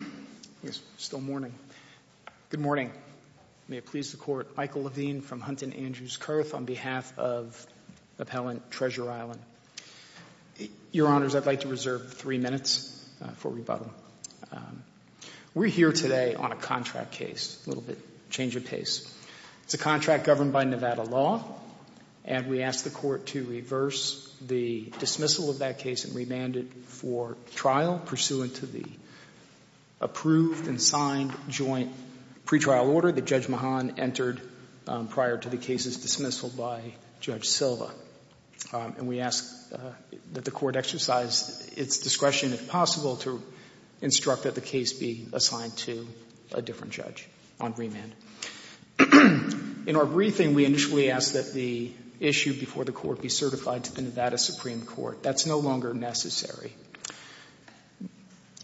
Good morning. May it please the Court, Michael Levine from Hunt and Andrews Kurth on behalf of Appellant Treasure Island. Your Honors, I'd like to reserve three minutes for rebuttal. We're here today on a contract case, a little bit of a change of pace. It's a contract governed by Nevada law, and we ask the Court to reverse the dismissal of that case and remand it for trial pursuant to the approved and signed joint pretrial order that Judge Mahan entered prior to the case's dismissal by Judge Silva. And we ask that the Court exercise its discretion, if possible, to instruct that the case be assigned to a different judge on remand. In our briefing, we initially asked that the issue before the Court be certified to the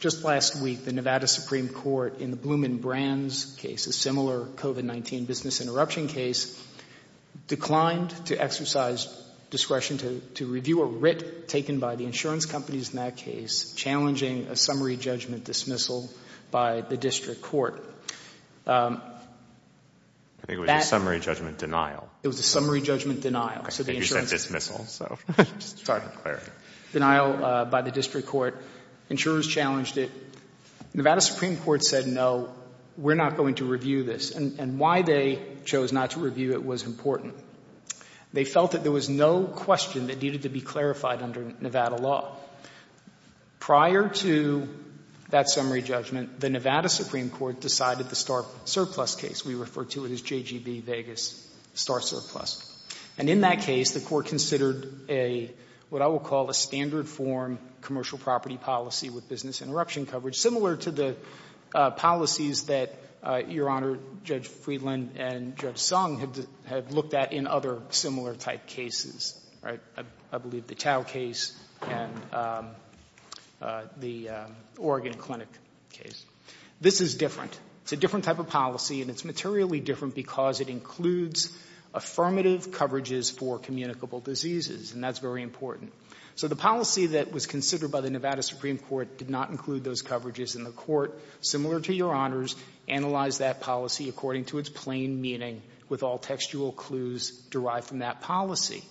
Just last week, the Nevada Supreme Court, in the Blumenbrands case, a similar COVID-19 business interruption case, declined to exercise discretion to review a writ taken by the insurance companies in that case challenging a summary judgment dismissal by the District Court. I think it was a summary judgment denial. It was a summary judgment denial. I think you said dismissal, so I'm just trying to clarify. Denial by the District Court. Insurers challenged it. Nevada Supreme Court said, no, we're not going to review this. And why they chose not to review it was important. They felt that there was no question that needed to be clarified under Nevada law. Prior to that summary judgment, the Nevada Supreme Court decided the star surplus case. We refer to it as JGB Vegas star surplus. And in that case, the Court considered a, what I will call a standard form commercial property policy with business interruption coverage, similar to the policies that Your Honor, Judge Friedland and Judge Sung had looked at in other similar type cases. I believe the Tao case and the Oregon Clinic case. This is different. It's a different type of policy, and it's materially different because it includes affirmative coverages for communicable diseases, and that's very important. So the policy that was considered by the Nevada Supreme Court did not include those coverages, and the Court, similar to Your Honor's, analyzed that policy according to its plain meaning with all textual clues derived from that policy.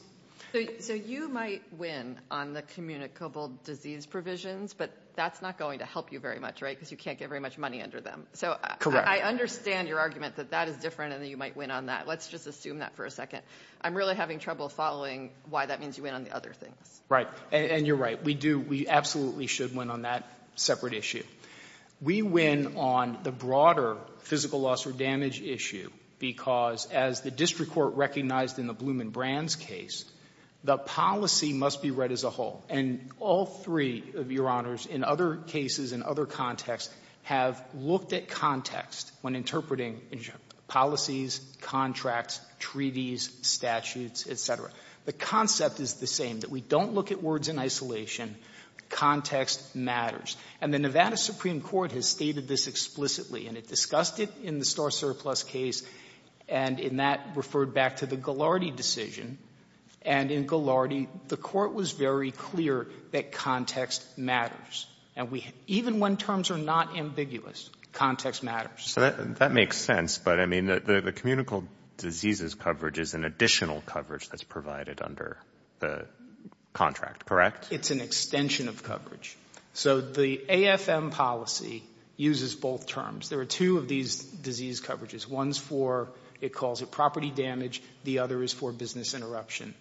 So you might win on the communicable disease provisions, but that's not going to help you very much, right, because you can't get very much money under them. So I understand your argument that that is different and that you might win on that. Let's just assume that for a second. I'm really having trouble following why that means you win on the other things. And you're right. We do. We absolutely should win on that separate issue. We win on the broader physical loss or damage issue because, as the district court recognized in the Blum and Brands case, the policy must be read as a whole. And all three of Your Honors, in other cases, in other contexts, have looked at context when interpreting policies, contracts, treaties, statutes, et cetera. The concept is the same, that we don't look at words in isolation. Context matters. And the Nevada Supreme Court has stated this explicitly, and it discussed it in the Star Surplus case, and in that referred back to the Ghilardi decision. And in Ghilardi, the Court was very clear that context matters. And we even when terms are not ambiguous, context matters. That makes sense. But, I mean, the communicable diseases coverage is an additional coverage that's provided under the contract, correct? It's an extension of coverage. So the AFM policy uses both terms. There are two of these disease coverages. One's for, it calls it property damage. The other is for business interruption.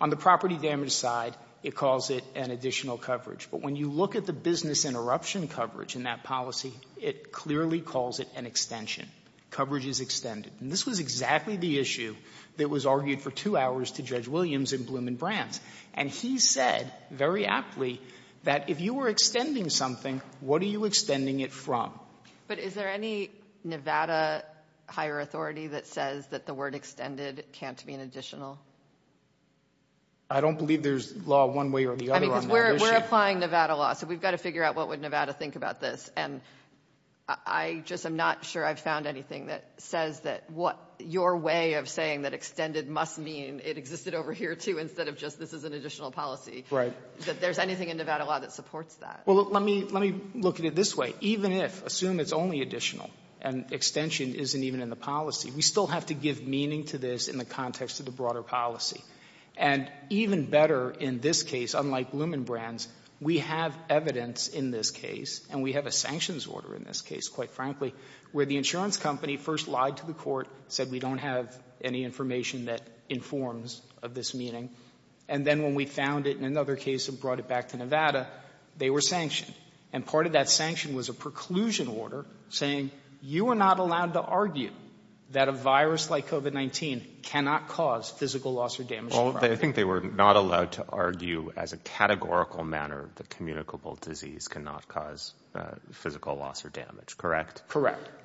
On the property damage side, it calls it an additional coverage. But when you look at the business interruption coverage in that policy, it clearly calls it an extension. Coverage is extended. And this was exactly the issue that was argued for two hours to Judge Williams in Bloom and Brands. And he said, very aptly, that if you were extending something, what are you extending it from? But is there any Nevada higher authority that says that the word extended can't be an additional? I don't believe there's law one way or the other on that issue. I mean, because we're applying Nevada law, so we've got to figure out what would Nevada think about this. And I just am not sure I've found anything that says that what your way of saying that extended must mean, it existed over here, too, instead of just this is an additional policy. Right. That there's anything in Nevada law that supports that. Well, let me look at it this way. Even if, assume it's only additional, and extension isn't even in the policy, we still have to give meaning to this in the context of the broader policy. And even better in this case, unlike Bloom and Brands, we have evidence in this case, and we have a sanctions order in this case, quite frankly, where the insurance company first lied to the court, said we don't have any information that informs of this meaning. And then when we found it in another case and brought it back to Nevada, they were sanctioned. And part of that sanction was a preclusion order saying you are not allowed to argue that a virus like COVID-19 cannot cause physical loss or damage to property. Well, I think they were not allowed to argue as a categorical manner that communicable disease cannot cause physical loss or damage, correct?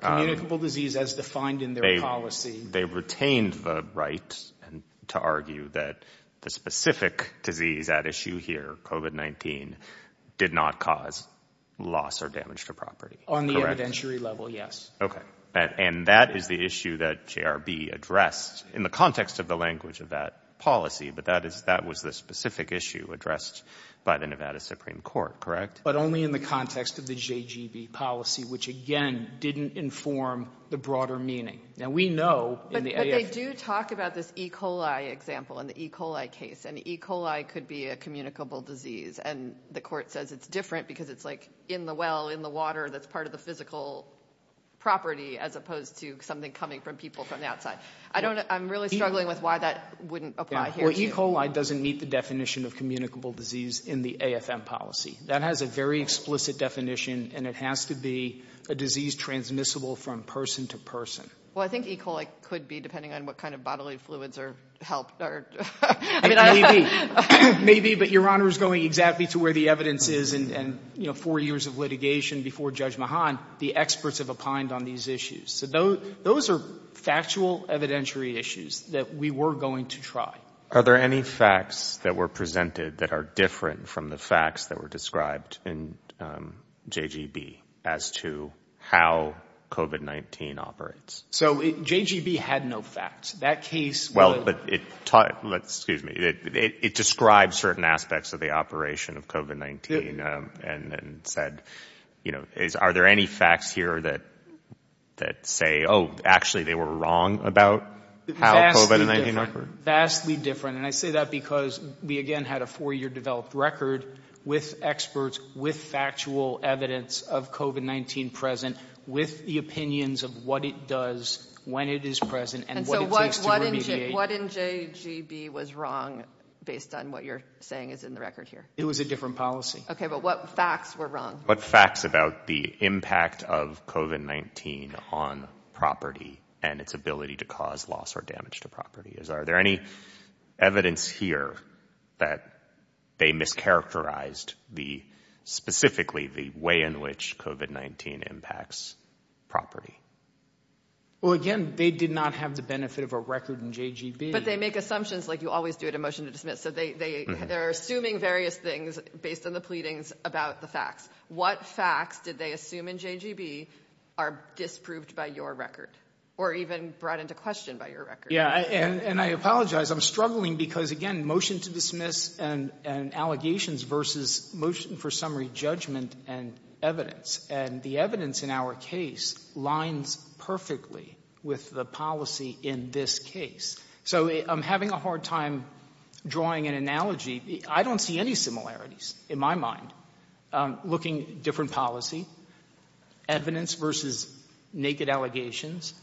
Communicable disease as defined in their policy. They retained the right to argue that the specific disease at issue here, COVID-19, did not cause loss or damage to property, correct? On the evidentiary level, yes. Okay. And that is the issue that JRB addressed in the context of the language of that policy, but that was the specific issue addressed by the Nevada Supreme Court, correct? But only in the context of the JGB policy, which again, didn't inform the broader meaning. Now, we know in the AF- But they do talk about this E. coli example in the E. coli case, and E. coli could be a communicable disease, and the court says it's different because it's like in the well, in the water, that's part of the physical property as opposed to something coming from people from the outside. I'm really struggling with why that wouldn't apply here. Well, E. coli doesn't meet the definition of communicable disease in the AFM policy. That has a very explicit definition, and it has to be a disease transmissible from person to person. Well, I think E. coli could be, depending on what kind of bodily fluids are helped or... Maybe, but Your Honor is going exactly to where the evidence is, and four years of litigation before Judge Mahan, the experts have opined on these issues. So those are factual evidentiary issues that we were going to try. Are there any facts that were presented that are different from the facts that were described in JGB as to how COVID-19 operates? So JGB had no facts. That case- Well, but it taught... Excuse me. It described certain aspects of the operation of COVID-19 and said, are there any facts here that say, oh, actually they were wrong about how COVID-19 operated? Vastly different. And I say that because we, again, had a four-year developed record with experts, with factual evidence of COVID-19 present, with the opinions of what it does, when it is present, and what it takes to remediate. And so what in JGB was wrong based on what you're saying is in the record here? It was a different policy. Okay, but what facts were wrong? What facts about the impact of COVID-19 on property and its ability to cause loss or damage to property? Are there any evidence here that they mischaracterized specifically the way in which COVID-19 impacts property? Well, again, they did not have the benefit of a record in JGB. But they make assumptions like you always do at a motion to dismiss. So they're assuming various things based on the pleadings about the facts. What facts did they assume in JGB are disproved by your record or even brought into question by your record? And I apologize. I'm struggling because, again, motion to dismiss and allegations versus motion for summary judgment and evidence. And the evidence in our case lines perfectly with the policy in this case. So I'm having a hard time drawing an analogy. I don't see any similarities in my mind. Looking at a different policy, evidence versus naked allegations,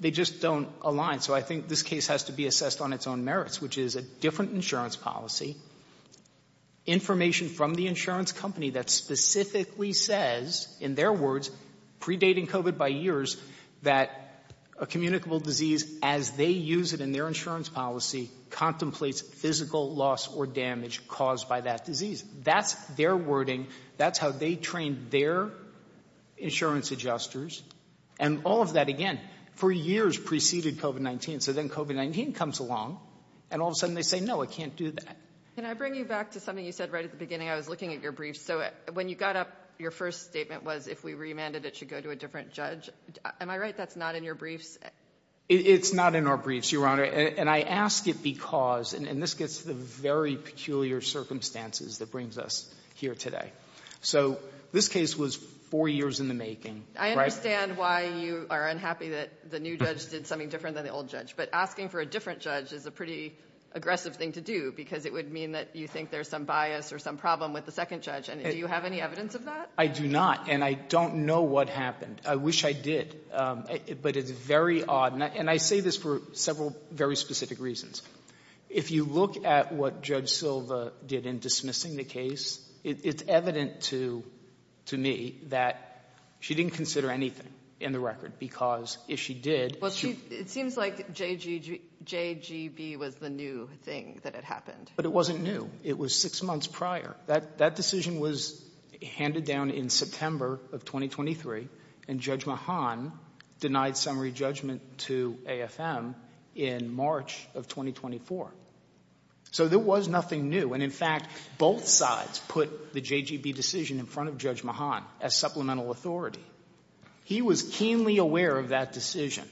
they just don't align. So I think this case has to be assessed on its own merits, which is a different insurance policy, information from the insurance company that specifically says, in their words, predating COVID by years, that a communicable disease as they use it in their insurance policy contemplates physical loss or damage caused by that disease. That's their wording. That's how they train their insurance adjusters. And all of that, again, for years preceded COVID-19. So then COVID-19 comes along and all of a sudden they say, no, I can't do that. Can I bring you back to something you said right at the beginning? I was looking at your brief. So when you got up, your first statement was if we remanded, it should go to a different judge. Am I right? That's not in your briefs. It's not in our briefs, Your Honor. And I ask it because, and this gets to the very peculiar circumstances that brings us here today. So this case was four years in the making. I understand why you are unhappy that the new judge did something different than the old judge. But asking for a different judge is a pretty aggressive thing to do because it would mean that you think there's some bias or some problem with the second judge. And do you have any evidence of that? I do not. And I don't know what happened. I wish I did. But it's very odd. And I say this for several very specific reasons. If you look at what Judge Silva did in dismissing the case, it's evident to me that she didn't consider anything in the record because if she did, it seems like JGB was the new thing that had happened. But it wasn't new. It was six months prior. That decision was handed down in September of 2023, and Judge Mahan denied summary judgment to AFM in March of 2024. So there was nothing new. And in fact, both sides put the JGB decision in front of Judge Mahan as supplemental authority. He was keenly aware of that decision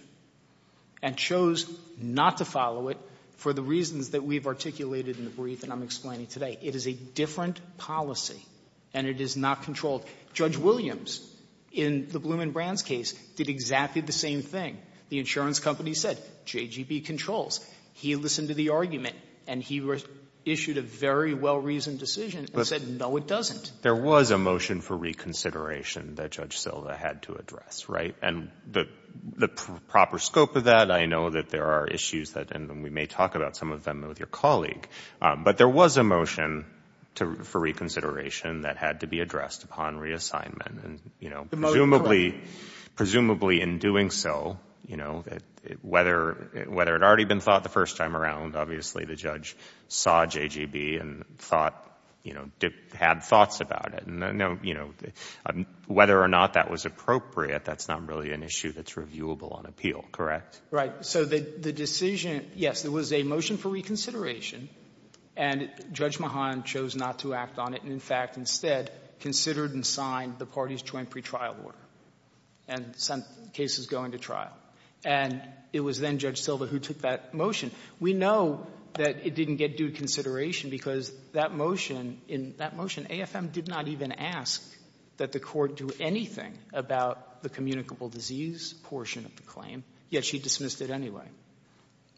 and chose not to follow it for the reasons that we've articulated in the brief that I'm explaining today. It is a different policy, and it is not controlled. Judge Williams in the Blum and Brands case did exactly the same thing. The insurance company said, JGB controls. He listened to the argument, and he issued a very well-reasoned decision and said, no, it doesn't. There was a motion for reconsideration that Judge Silva had to address, right? And the proper scope of that, I know that there are issues that we may talk about, some of them with your colleague. But there was a motion for reconsideration that had to be addressed upon reassignment. And presumably in doing so, whether it had already been thought the first time around, obviously the judge saw JGB and had thoughts about it. And whether or not that was appropriate, that's not really an issue that's reviewable on appeal, correct? Right. So the decision, yes, there was a motion for reconsideration, and Judge Mahan chose not to act on it. And in fact, instead, considered and signed the party's joint pretrial order and sent cases going to trial. And it was then Judge Silva who took that motion. We know that it didn't get due consideration because that motion, in that motion, AFM did not even ask that the court do anything about the communicable disease portion of the claim, yet she dismissed it anyway,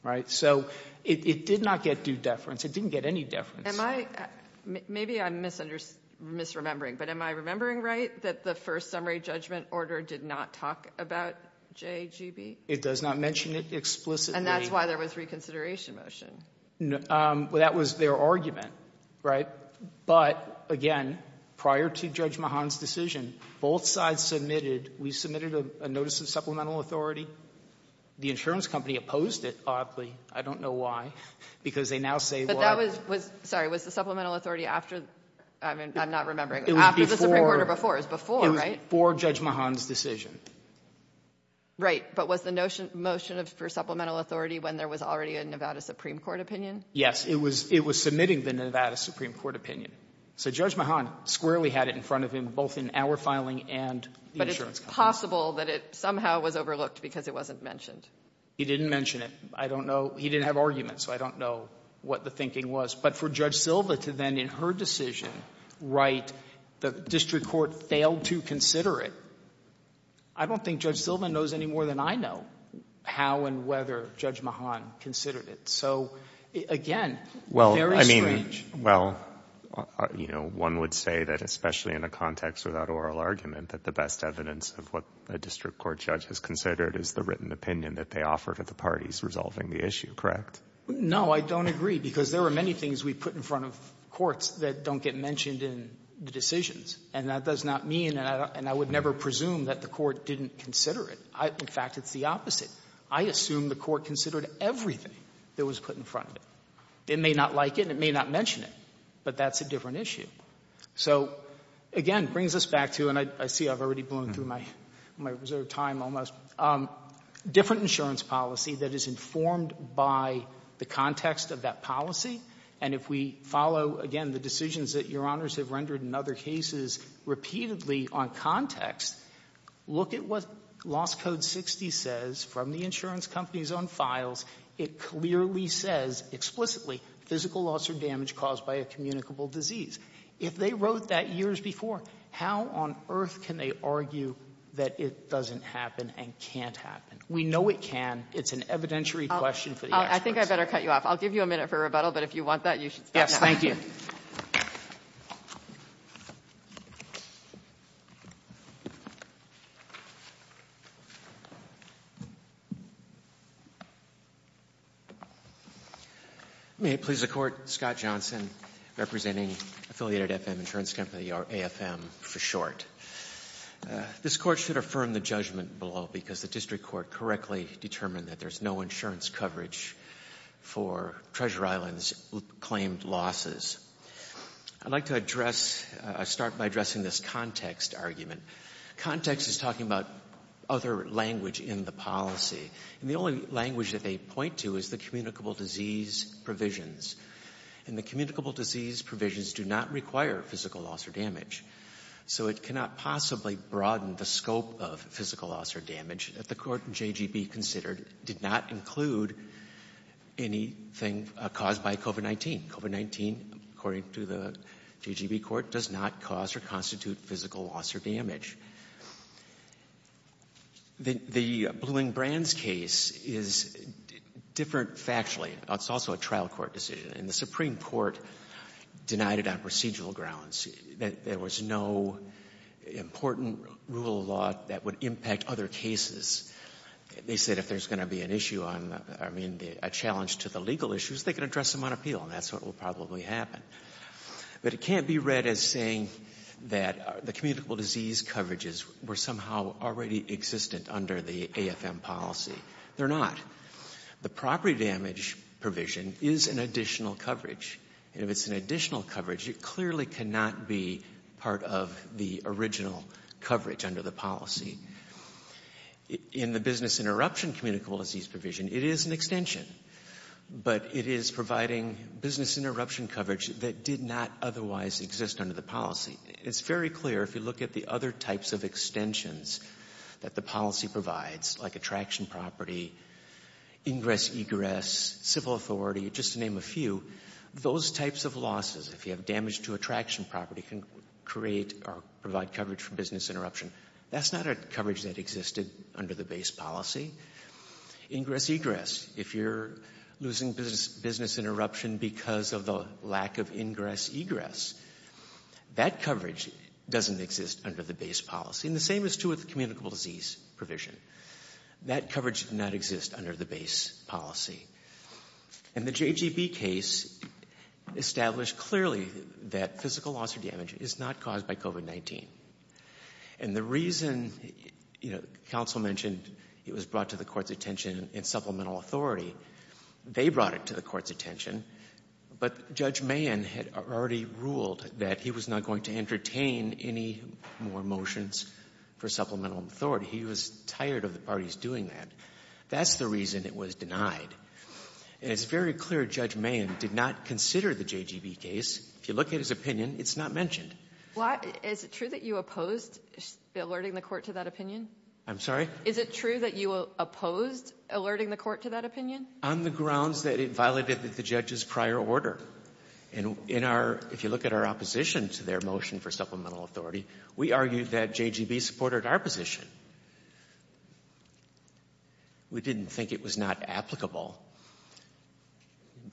right? So it did not get due deference. It didn't get any deference. Am I — maybe I'm misunders — misremembering, but am I remembering right that the first summary judgment order did not talk about JGB? It does not mention it explicitly. And that's why there was reconsideration motion. That was their argument, right? But, again, prior to Judge Mahan's decision, both sides submitted — we submitted a notice of supplemental authority. The insurance company opposed it, oddly. I don't know why, because they now say, well — But that was — sorry, was the supplemental authority after — I mean, I'm not remembering. After the supreme court or before? It was before, right? It was before Judge Mahan's decision. Right. But was the motion for supplemental authority when there was already a Nevada supreme court opinion? Yes. It was — it was submitting the Nevada supreme court opinion. So Judge Mahan squarely had it in front of him, both in our filing and the insurance company. But it's possible that it somehow was overlooked because it wasn't mentioned. He didn't mention it. I don't know. He didn't have arguments, so I don't know what the thinking was. But for Judge Silva to then, in her decision, write, the district court failed to consider it, I don't think Judge Silva knows any more than I know how and whether Judge Mahan considered it. So, again, very strange. Well, I mean, well, you know, one would say that, especially in a context without oral argument, that the best evidence of what a district court judge has considered is the written opinion that they offer to the parties resolving the issue, correct? No, I don't agree, because there are many things we put in front of courts that don't get mentioned in the decisions. And that does not mean — and I would never presume that the court didn't consider it. In fact, it's the opposite. I assume the court considered everything that was put in front of it. It may not like it and it may not mention it, but that's a different issue. So, again, it brings us back to — and I see I've already blown through my reserved time almost — different insurance policy that is informed by the context of that policy. And if we follow, again, the decisions that Your Honors have rendered in other cases repeatedly on context, look at what loss code 60 says from the insurance companies on files. It clearly says, explicitly, physical loss or damage caused by a communicable disease. If they wrote that years before, how on earth can they argue that it doesn't happen and can't happen? We know it can. It's an evidentiary question for the experts. I think I'd better cut you off. I'll give you a minute for rebuttal, but if you want that, you should stop now. Yes, thank you. May it please the Court, Scott Johnson, representing a third party. Affiliated FM Insurance Company, or AFM for short. This Court should affirm the judgment below because the district court correctly determined that there's no insurance coverage for Treasure Island's claimed losses. I'd like to address — start by addressing this context argument. Context is talking about other language in the policy, and the only language that they point to is the communicable disease provisions, and the communicable disease provisions do not require physical loss or damage. So it cannot possibly broaden the scope of physical loss or damage that the Court and JGB considered did not include anything caused by COVID-19. COVID-19, according to the JGB Court, does not cause or constitute physical loss or damage. The Bluing-Brands case is different factually. It's also a trial court decision. And the Supreme Court denied it on procedural grounds. There was no important rule of law that would impact other cases. They said if there's going to be an issue on — I mean, a challenge to the legal issues, they can address them on appeal, and that's what will probably happen. But it can't be read as saying that the communicable disease coverages were somehow already existent under the AFM policy. They're not. The property damage provision is an additional coverage, and if it's an additional coverage, it clearly cannot be part of the original coverage under the policy. In the business interruption communicable disease provision, it is an extension, but it is providing business interruption coverage that did not otherwise exist under the policy. It's very clear if you look at the other types of extensions that the policy provides, like attraction property, ingress-egress, civil authority, just to name a few, those types of losses, if you have damage to attraction property, can create or provide coverage for business interruption. That's not a coverage that existed under the base policy. Ingress-egress, if you're losing business interruption because of the lack of ingress-egress, that coverage doesn't exist under the base policy. And the same is true with communicable disease provision. That coverage does not exist under the base policy. And the JGB case established clearly that physical loss or damage is not caused by COVID-19. And the reason, you know, counsel mentioned it was brought to the court's attention in supplemental authority. They brought it to the court's attention, but Judge Mahan had already ruled that he was not going to entertain any more motions for supplemental authority. He was tired of the parties doing that. That's the reason it was denied. And it's very clear Judge Mahan did not consider the JGB case. If you look at his opinion, it's not mentioned. Why — is it true that you opposed alerting the court to that opinion? I'm sorry? Is it true that you opposed alerting the court to that opinion? On the grounds that it violated the judge's prior order. And in our — if you look at our opposition to their motion for supplemental authority, we argued that JGB supported our position. We didn't think it was not applicable.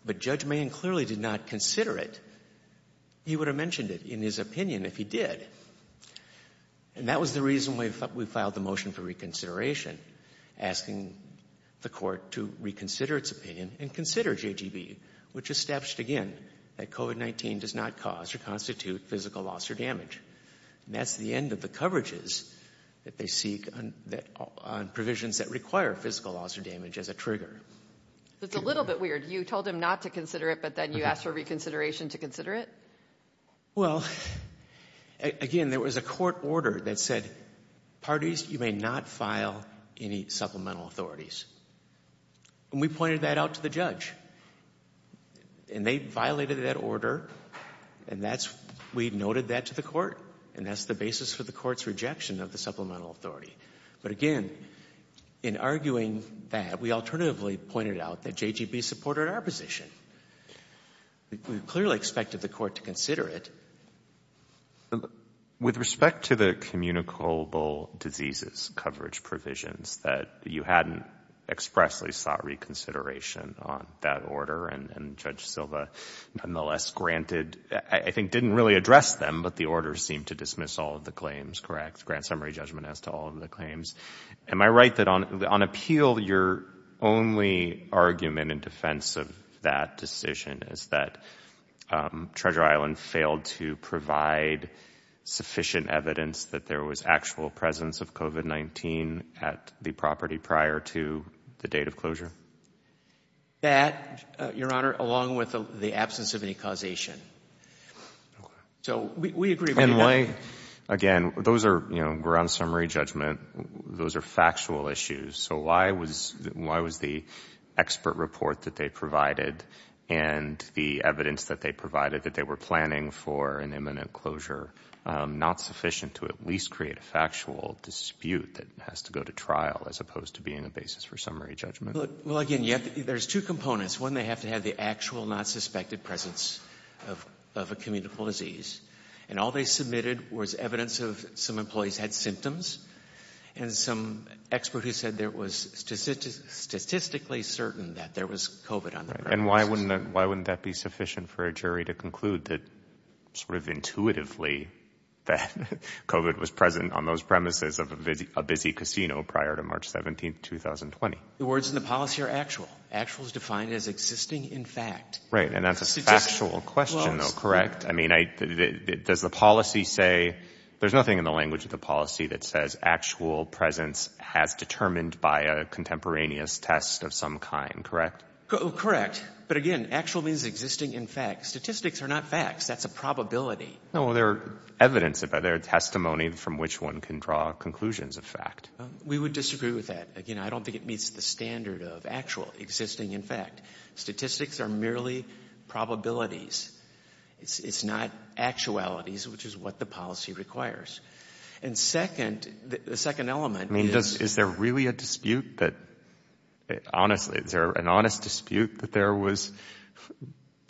But Judge Mahan clearly did not consider it. He would have mentioned it in his opinion if he did. And that was the reason we filed the motion for reconsideration, asking the court to reconsider its opinion and consider JGB, which established, again, that COVID-19 does not cause or constitute physical loss or damage. And that's the end of the coverages that they seek on provisions that require physical loss or damage as a trigger. That's a little bit weird. You told him not to consider it, but then you asked for reconsideration to consider it? Well, again, there was a court order that said, parties, you may not file any supplemental authorities. And we pointed that out to the judge. And they violated that order. And that's — we noted that to the court. And that's the basis for the court's rejection of the supplemental authority. But again, in arguing that, we alternatively pointed out that JGB supported our position. We clearly expected the court to consider it. With respect to the communicable diseases coverage provisions, that you hadn't expressly sought reconsideration on that order, and Judge Silva nonetheless granted — I think didn't really address them, but the order seemed to dismiss all of the claims, correct? Grant summary judgment as to all of the claims. Am I right that on appeal, your only argument in defense of that decision is that Treasure Island failed to provide sufficient evidence that there was actual presence of COVID-19 at the property prior to the date of closure? That, your honor, along with the absence of any causation. So we agree — And why — again, those are, you know, ground summary judgment. Those are factual issues. So why was — why was the expert report that they provided and the evidence that they provided that they were planning for an imminent closure not sufficient to at least create a factual dispute that has to go to trial, as opposed to being a basis for summary judgment? Well, again, there's two components. One, they have to have the actual, not suspected presence of a communicable disease. And all they submitted was evidence of some employees had symptoms, and some expert who said there was statistically certain that there was COVID on the premises. And why wouldn't that be sufficient for a jury to conclude that sort of intuitively that COVID was present on those premises of a busy casino prior to March 17, 2020? The words in the policy are actual. Actual is defined as existing in fact. Right. And that's a factual question, though, correct? I mean, does the policy say — there's nothing in the language of the policy that says actual presence as determined by a contemporaneous test of some kind, correct? Correct. But, again, actual means existing in fact. Statistics are not facts. That's a probability. No, well, they're evidence. They're testimony from which one can draw conclusions of fact. We would disagree with that. Again, I don't think it meets the standard of actual, existing in fact. Statistics are merely probabilities. It's not actualities, which is what the policy requires. And second, the second element — I mean, is there really a dispute that — honestly, is there an honest dispute that there was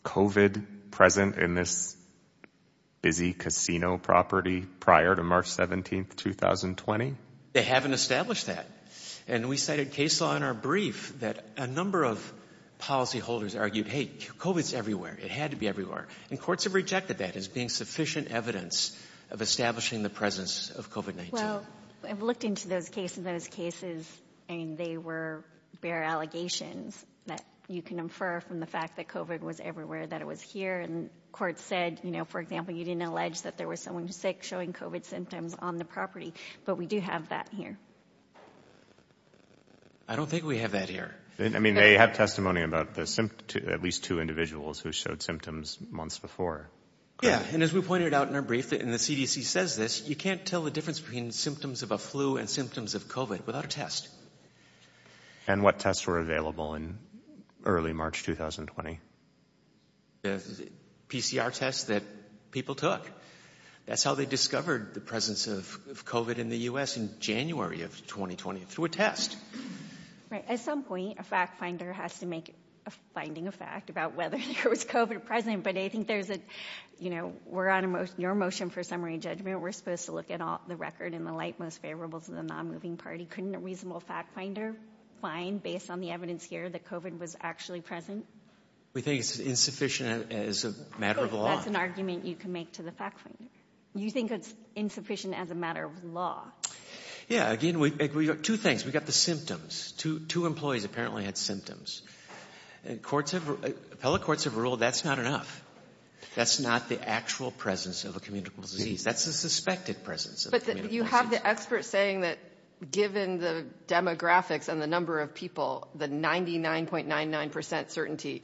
COVID present in this busy casino property prior to March 17, 2020? They haven't established that. And we cited case law in our brief that a number of policyholders argued, hey, COVID's everywhere. It had to be everywhere. And courts have rejected that as being sufficient evidence of establishing the presence of COVID-19. Well, I've looked into those cases. Those cases, I mean, they were bare allegations that you can infer from the fact that COVID was everywhere, that it was here. And courts said, you know, for example, you didn't allege that there was someone sick showing COVID symptoms on the property. But we do have that here. I don't think we have that here. I mean, they have testimony about at least two individuals who showed symptoms months before. Yeah. And as we pointed out in our brief, and the CDC says this, you can't tell the difference between symptoms of a flu and symptoms of COVID without a test. And what tests were available in early March 2020? PCR tests that people took. That's how they discovered the presence of COVID in the U.S. in January of 2020, through a test. Right. At some point, a fact finder has to make a finding of fact about whether there was COVID present. But I think there's a, you know, we're on your motion for summary judgment. We're supposed to look at all the record in the light most favorable to the non-moving party. Couldn't a reasonable fact finder find, based on the evidence here, that COVID was actually present? We think it's insufficient as a matter of law. That's an argument you can make to the fact finder. You think it's insufficient as a matter of law. Yeah. Again, we've got two things. We've got the symptoms. Two employees apparently had symptoms. Courts have, appellate courts have ruled that's not enough. That's not the actual presence of a communicable disease. That's a suspected presence. But you have the expert saying that given the demographics and the number of people, the 99.99% certainty.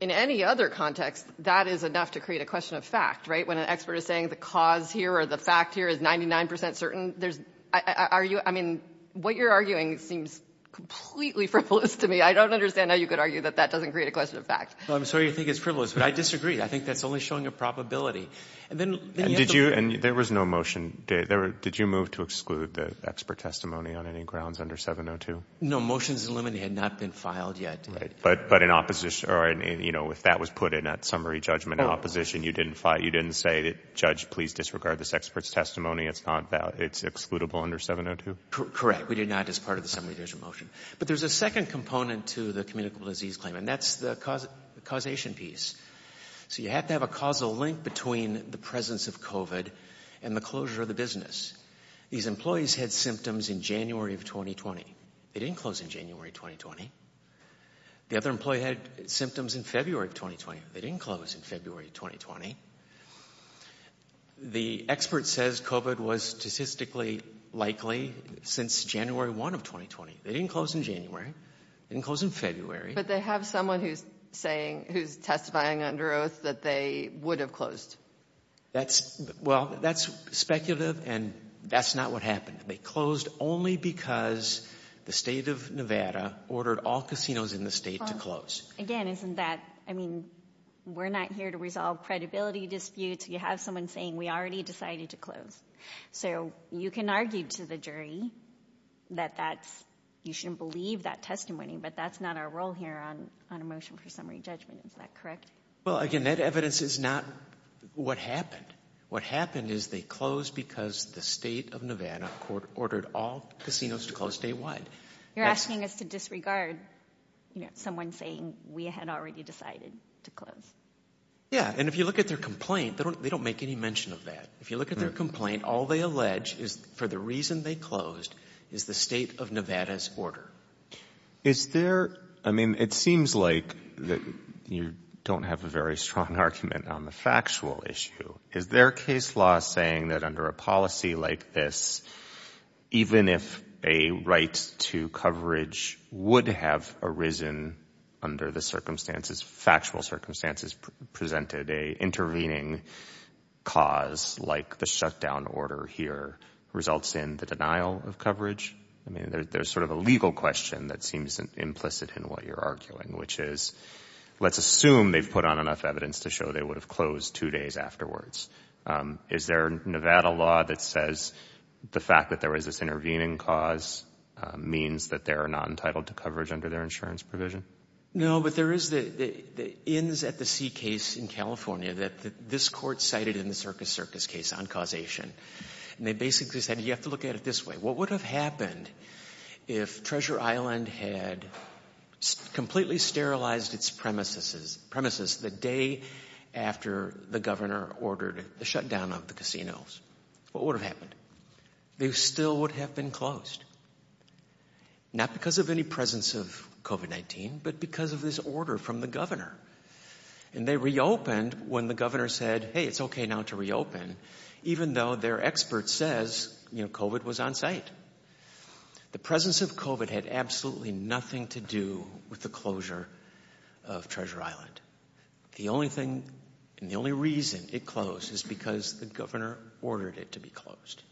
In any other context, that is enough to create a question of fact, right? When an expert is saying the cause here or the fact here is 99% certain, there's, are you, I mean, what you're arguing seems completely frivolous to me. I don't understand how you could argue that that doesn't create a question of fact. Well, I'm sorry you think it's frivolous, but I disagree. I think that's only showing a probability. And then you have the- And did you, and there was no motion, did you move to exclude the expert testimony on any grounds under 702? No. Motions in limited had not been filed yet. But in opposition, or in, you know, if that was put in that summary judgment in opposition, you didn't file, you didn't say that judge, please disregard this expert's testimony. It's not valid. It's excludable under 702? Correct. We did not as part of the summary judgment motion. But there's a second component to the communicable disease claim, and that's the causation piece. So you have to have a causal link between the presence of COVID and the closure of the business. These employees had symptoms in January of 2020. They didn't close in January 2020. The other employee had symptoms in February of 2020. They didn't close in February 2020. The expert says COVID was statistically likely since January 1 of 2020. They didn't close in January. They didn't close in February. But they have someone who's saying, who's testifying under oath that they would have That's, well, that's speculative, and that's not what happened. They closed only because the state of Nevada ordered all casinos in the state to close. Again, isn't that, I mean, we're not here to resolve credibility disputes. You have someone saying we already decided to close. So you can argue to the jury that that's, you shouldn't believe that testimony, but that's not our role here on a motion for summary judgment. Is that correct? Well, again, that evidence is not what happened. What happened is they closed because the state of Nevada ordered all casinos to close statewide. You're asking us to disregard, you know, someone saying we had already decided to close. Yeah. And if you look at their complaint, they don't make any mention of that. If you look at their complaint, all they allege is for the reason they closed is the state of Nevada's order. Is there, I mean, it seems like that you don't have a very strong argument on the factual issue. Is their case law saying that under a policy like this, even if a right to coverage would have arisen under the circumstances, factual circumstances presented, a intervening cause like the shutdown order here results in the denial of coverage? I mean, there's sort of a legal question that seems implicit in what you're arguing, which is let's assume they've put on enough evidence to show they would have closed two days afterwards. Is there Nevada law that says the fact that there was this intervening cause means that they're not entitled to coverage under their insurance provision? No, but there is the ins at the sea case in California that this court cited in the Circus Circus case on causation, and they basically said, you have to look at it this way. What would have happened if Treasure Island had completely sterilized its premises premises the day after the governor ordered the shutdown of the casinos? What would have happened? They still would have been closed. Not because of any presence of COVID-19, but because of this order from the governor. And they reopened when the governor said, hey, it's OK now to reopen, even though their expert says, you know, COVID was on site. The presence of COVID had absolutely nothing to do with the closure of Treasure Island. The only thing and the only reason it closed is because the governor ordered it to be closed.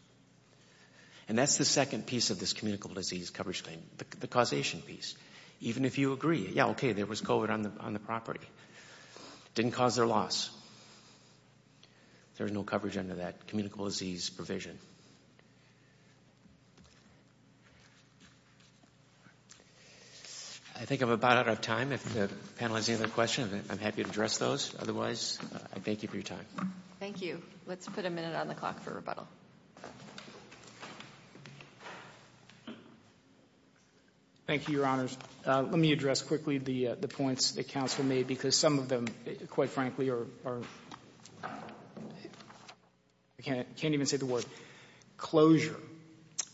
And that's the second piece of this communicable disease coverage claim, the causation piece. Even if you agree, yeah, OK, there was COVID on the property, didn't cause their loss. There is no coverage under that communicable disease provision. I think I'm about out of time. If the panel has any other questions, I'm happy to address those. Otherwise, I thank you for your time. Thank you. Let's put a minute on the clock for rebuttal. Thank you, Your Honors. Let me address quickly the points that counsel made, because some of them, quite frankly, are, I can't even say the word.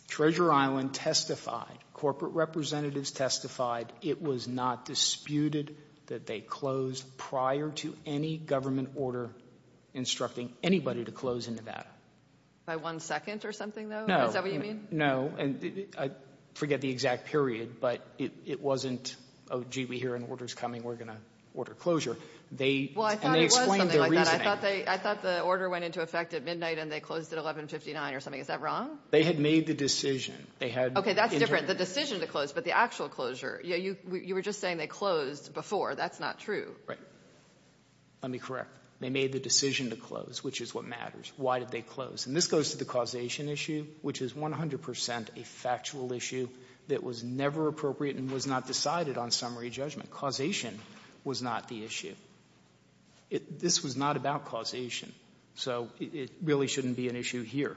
Treasure Island testified. Corporate representatives testified. It was not disputed that they closed prior to any government order instructing anybody to close in Nevada. By one second or something, though? Is that what you mean? No. I forget the exact period, but it wasn't, oh, gee, we hear an order's coming. We're going to order closure. Well, I thought it was something like that. And they explained their reasoning. I thought the order went into effect at midnight and they closed at 1159 or something. Is that wrong? They had made the decision. OK, that's different. The decision to close, but the actual closure. You were just saying they closed before. That's not true. Right. Let me correct. They made the decision to close, which is what matters. Why did they close? And this goes to the causation issue, which is 100 percent a factual issue that was never appropriate and was not decided on summary judgment. Causation was not the issue. This was not about causation. So it really shouldn't be an issue here.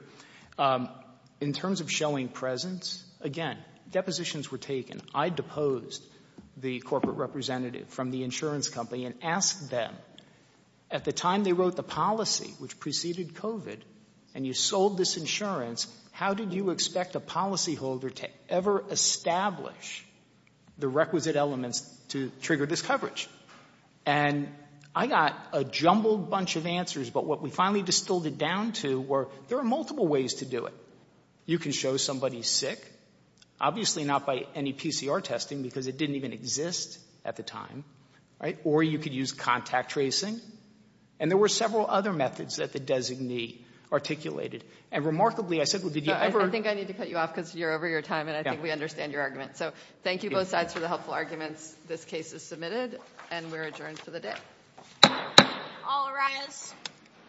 In terms of showing presence, again, depositions were taken. I deposed the corporate representative from the insurance company and asked them. At the time they wrote the policy, which preceded covid, and you sold this insurance. How did you expect a policyholder to ever establish the requisite elements to trigger this coverage? And I got a jumbled bunch of answers. But what we finally distilled it down to were there are multiple ways to do it. You can show somebody sick, obviously not by any PCR testing because it didn't even exist at the time. Or you could use contact tracing. And there were several other methods that the designee articulated. And remarkably, I said, well, did you ever. I think I need to cut you off because you're over your time and I think we understand your argument. So thank you both sides for the helpful arguments. This case is submitted and we're adjourned for the day. All rise.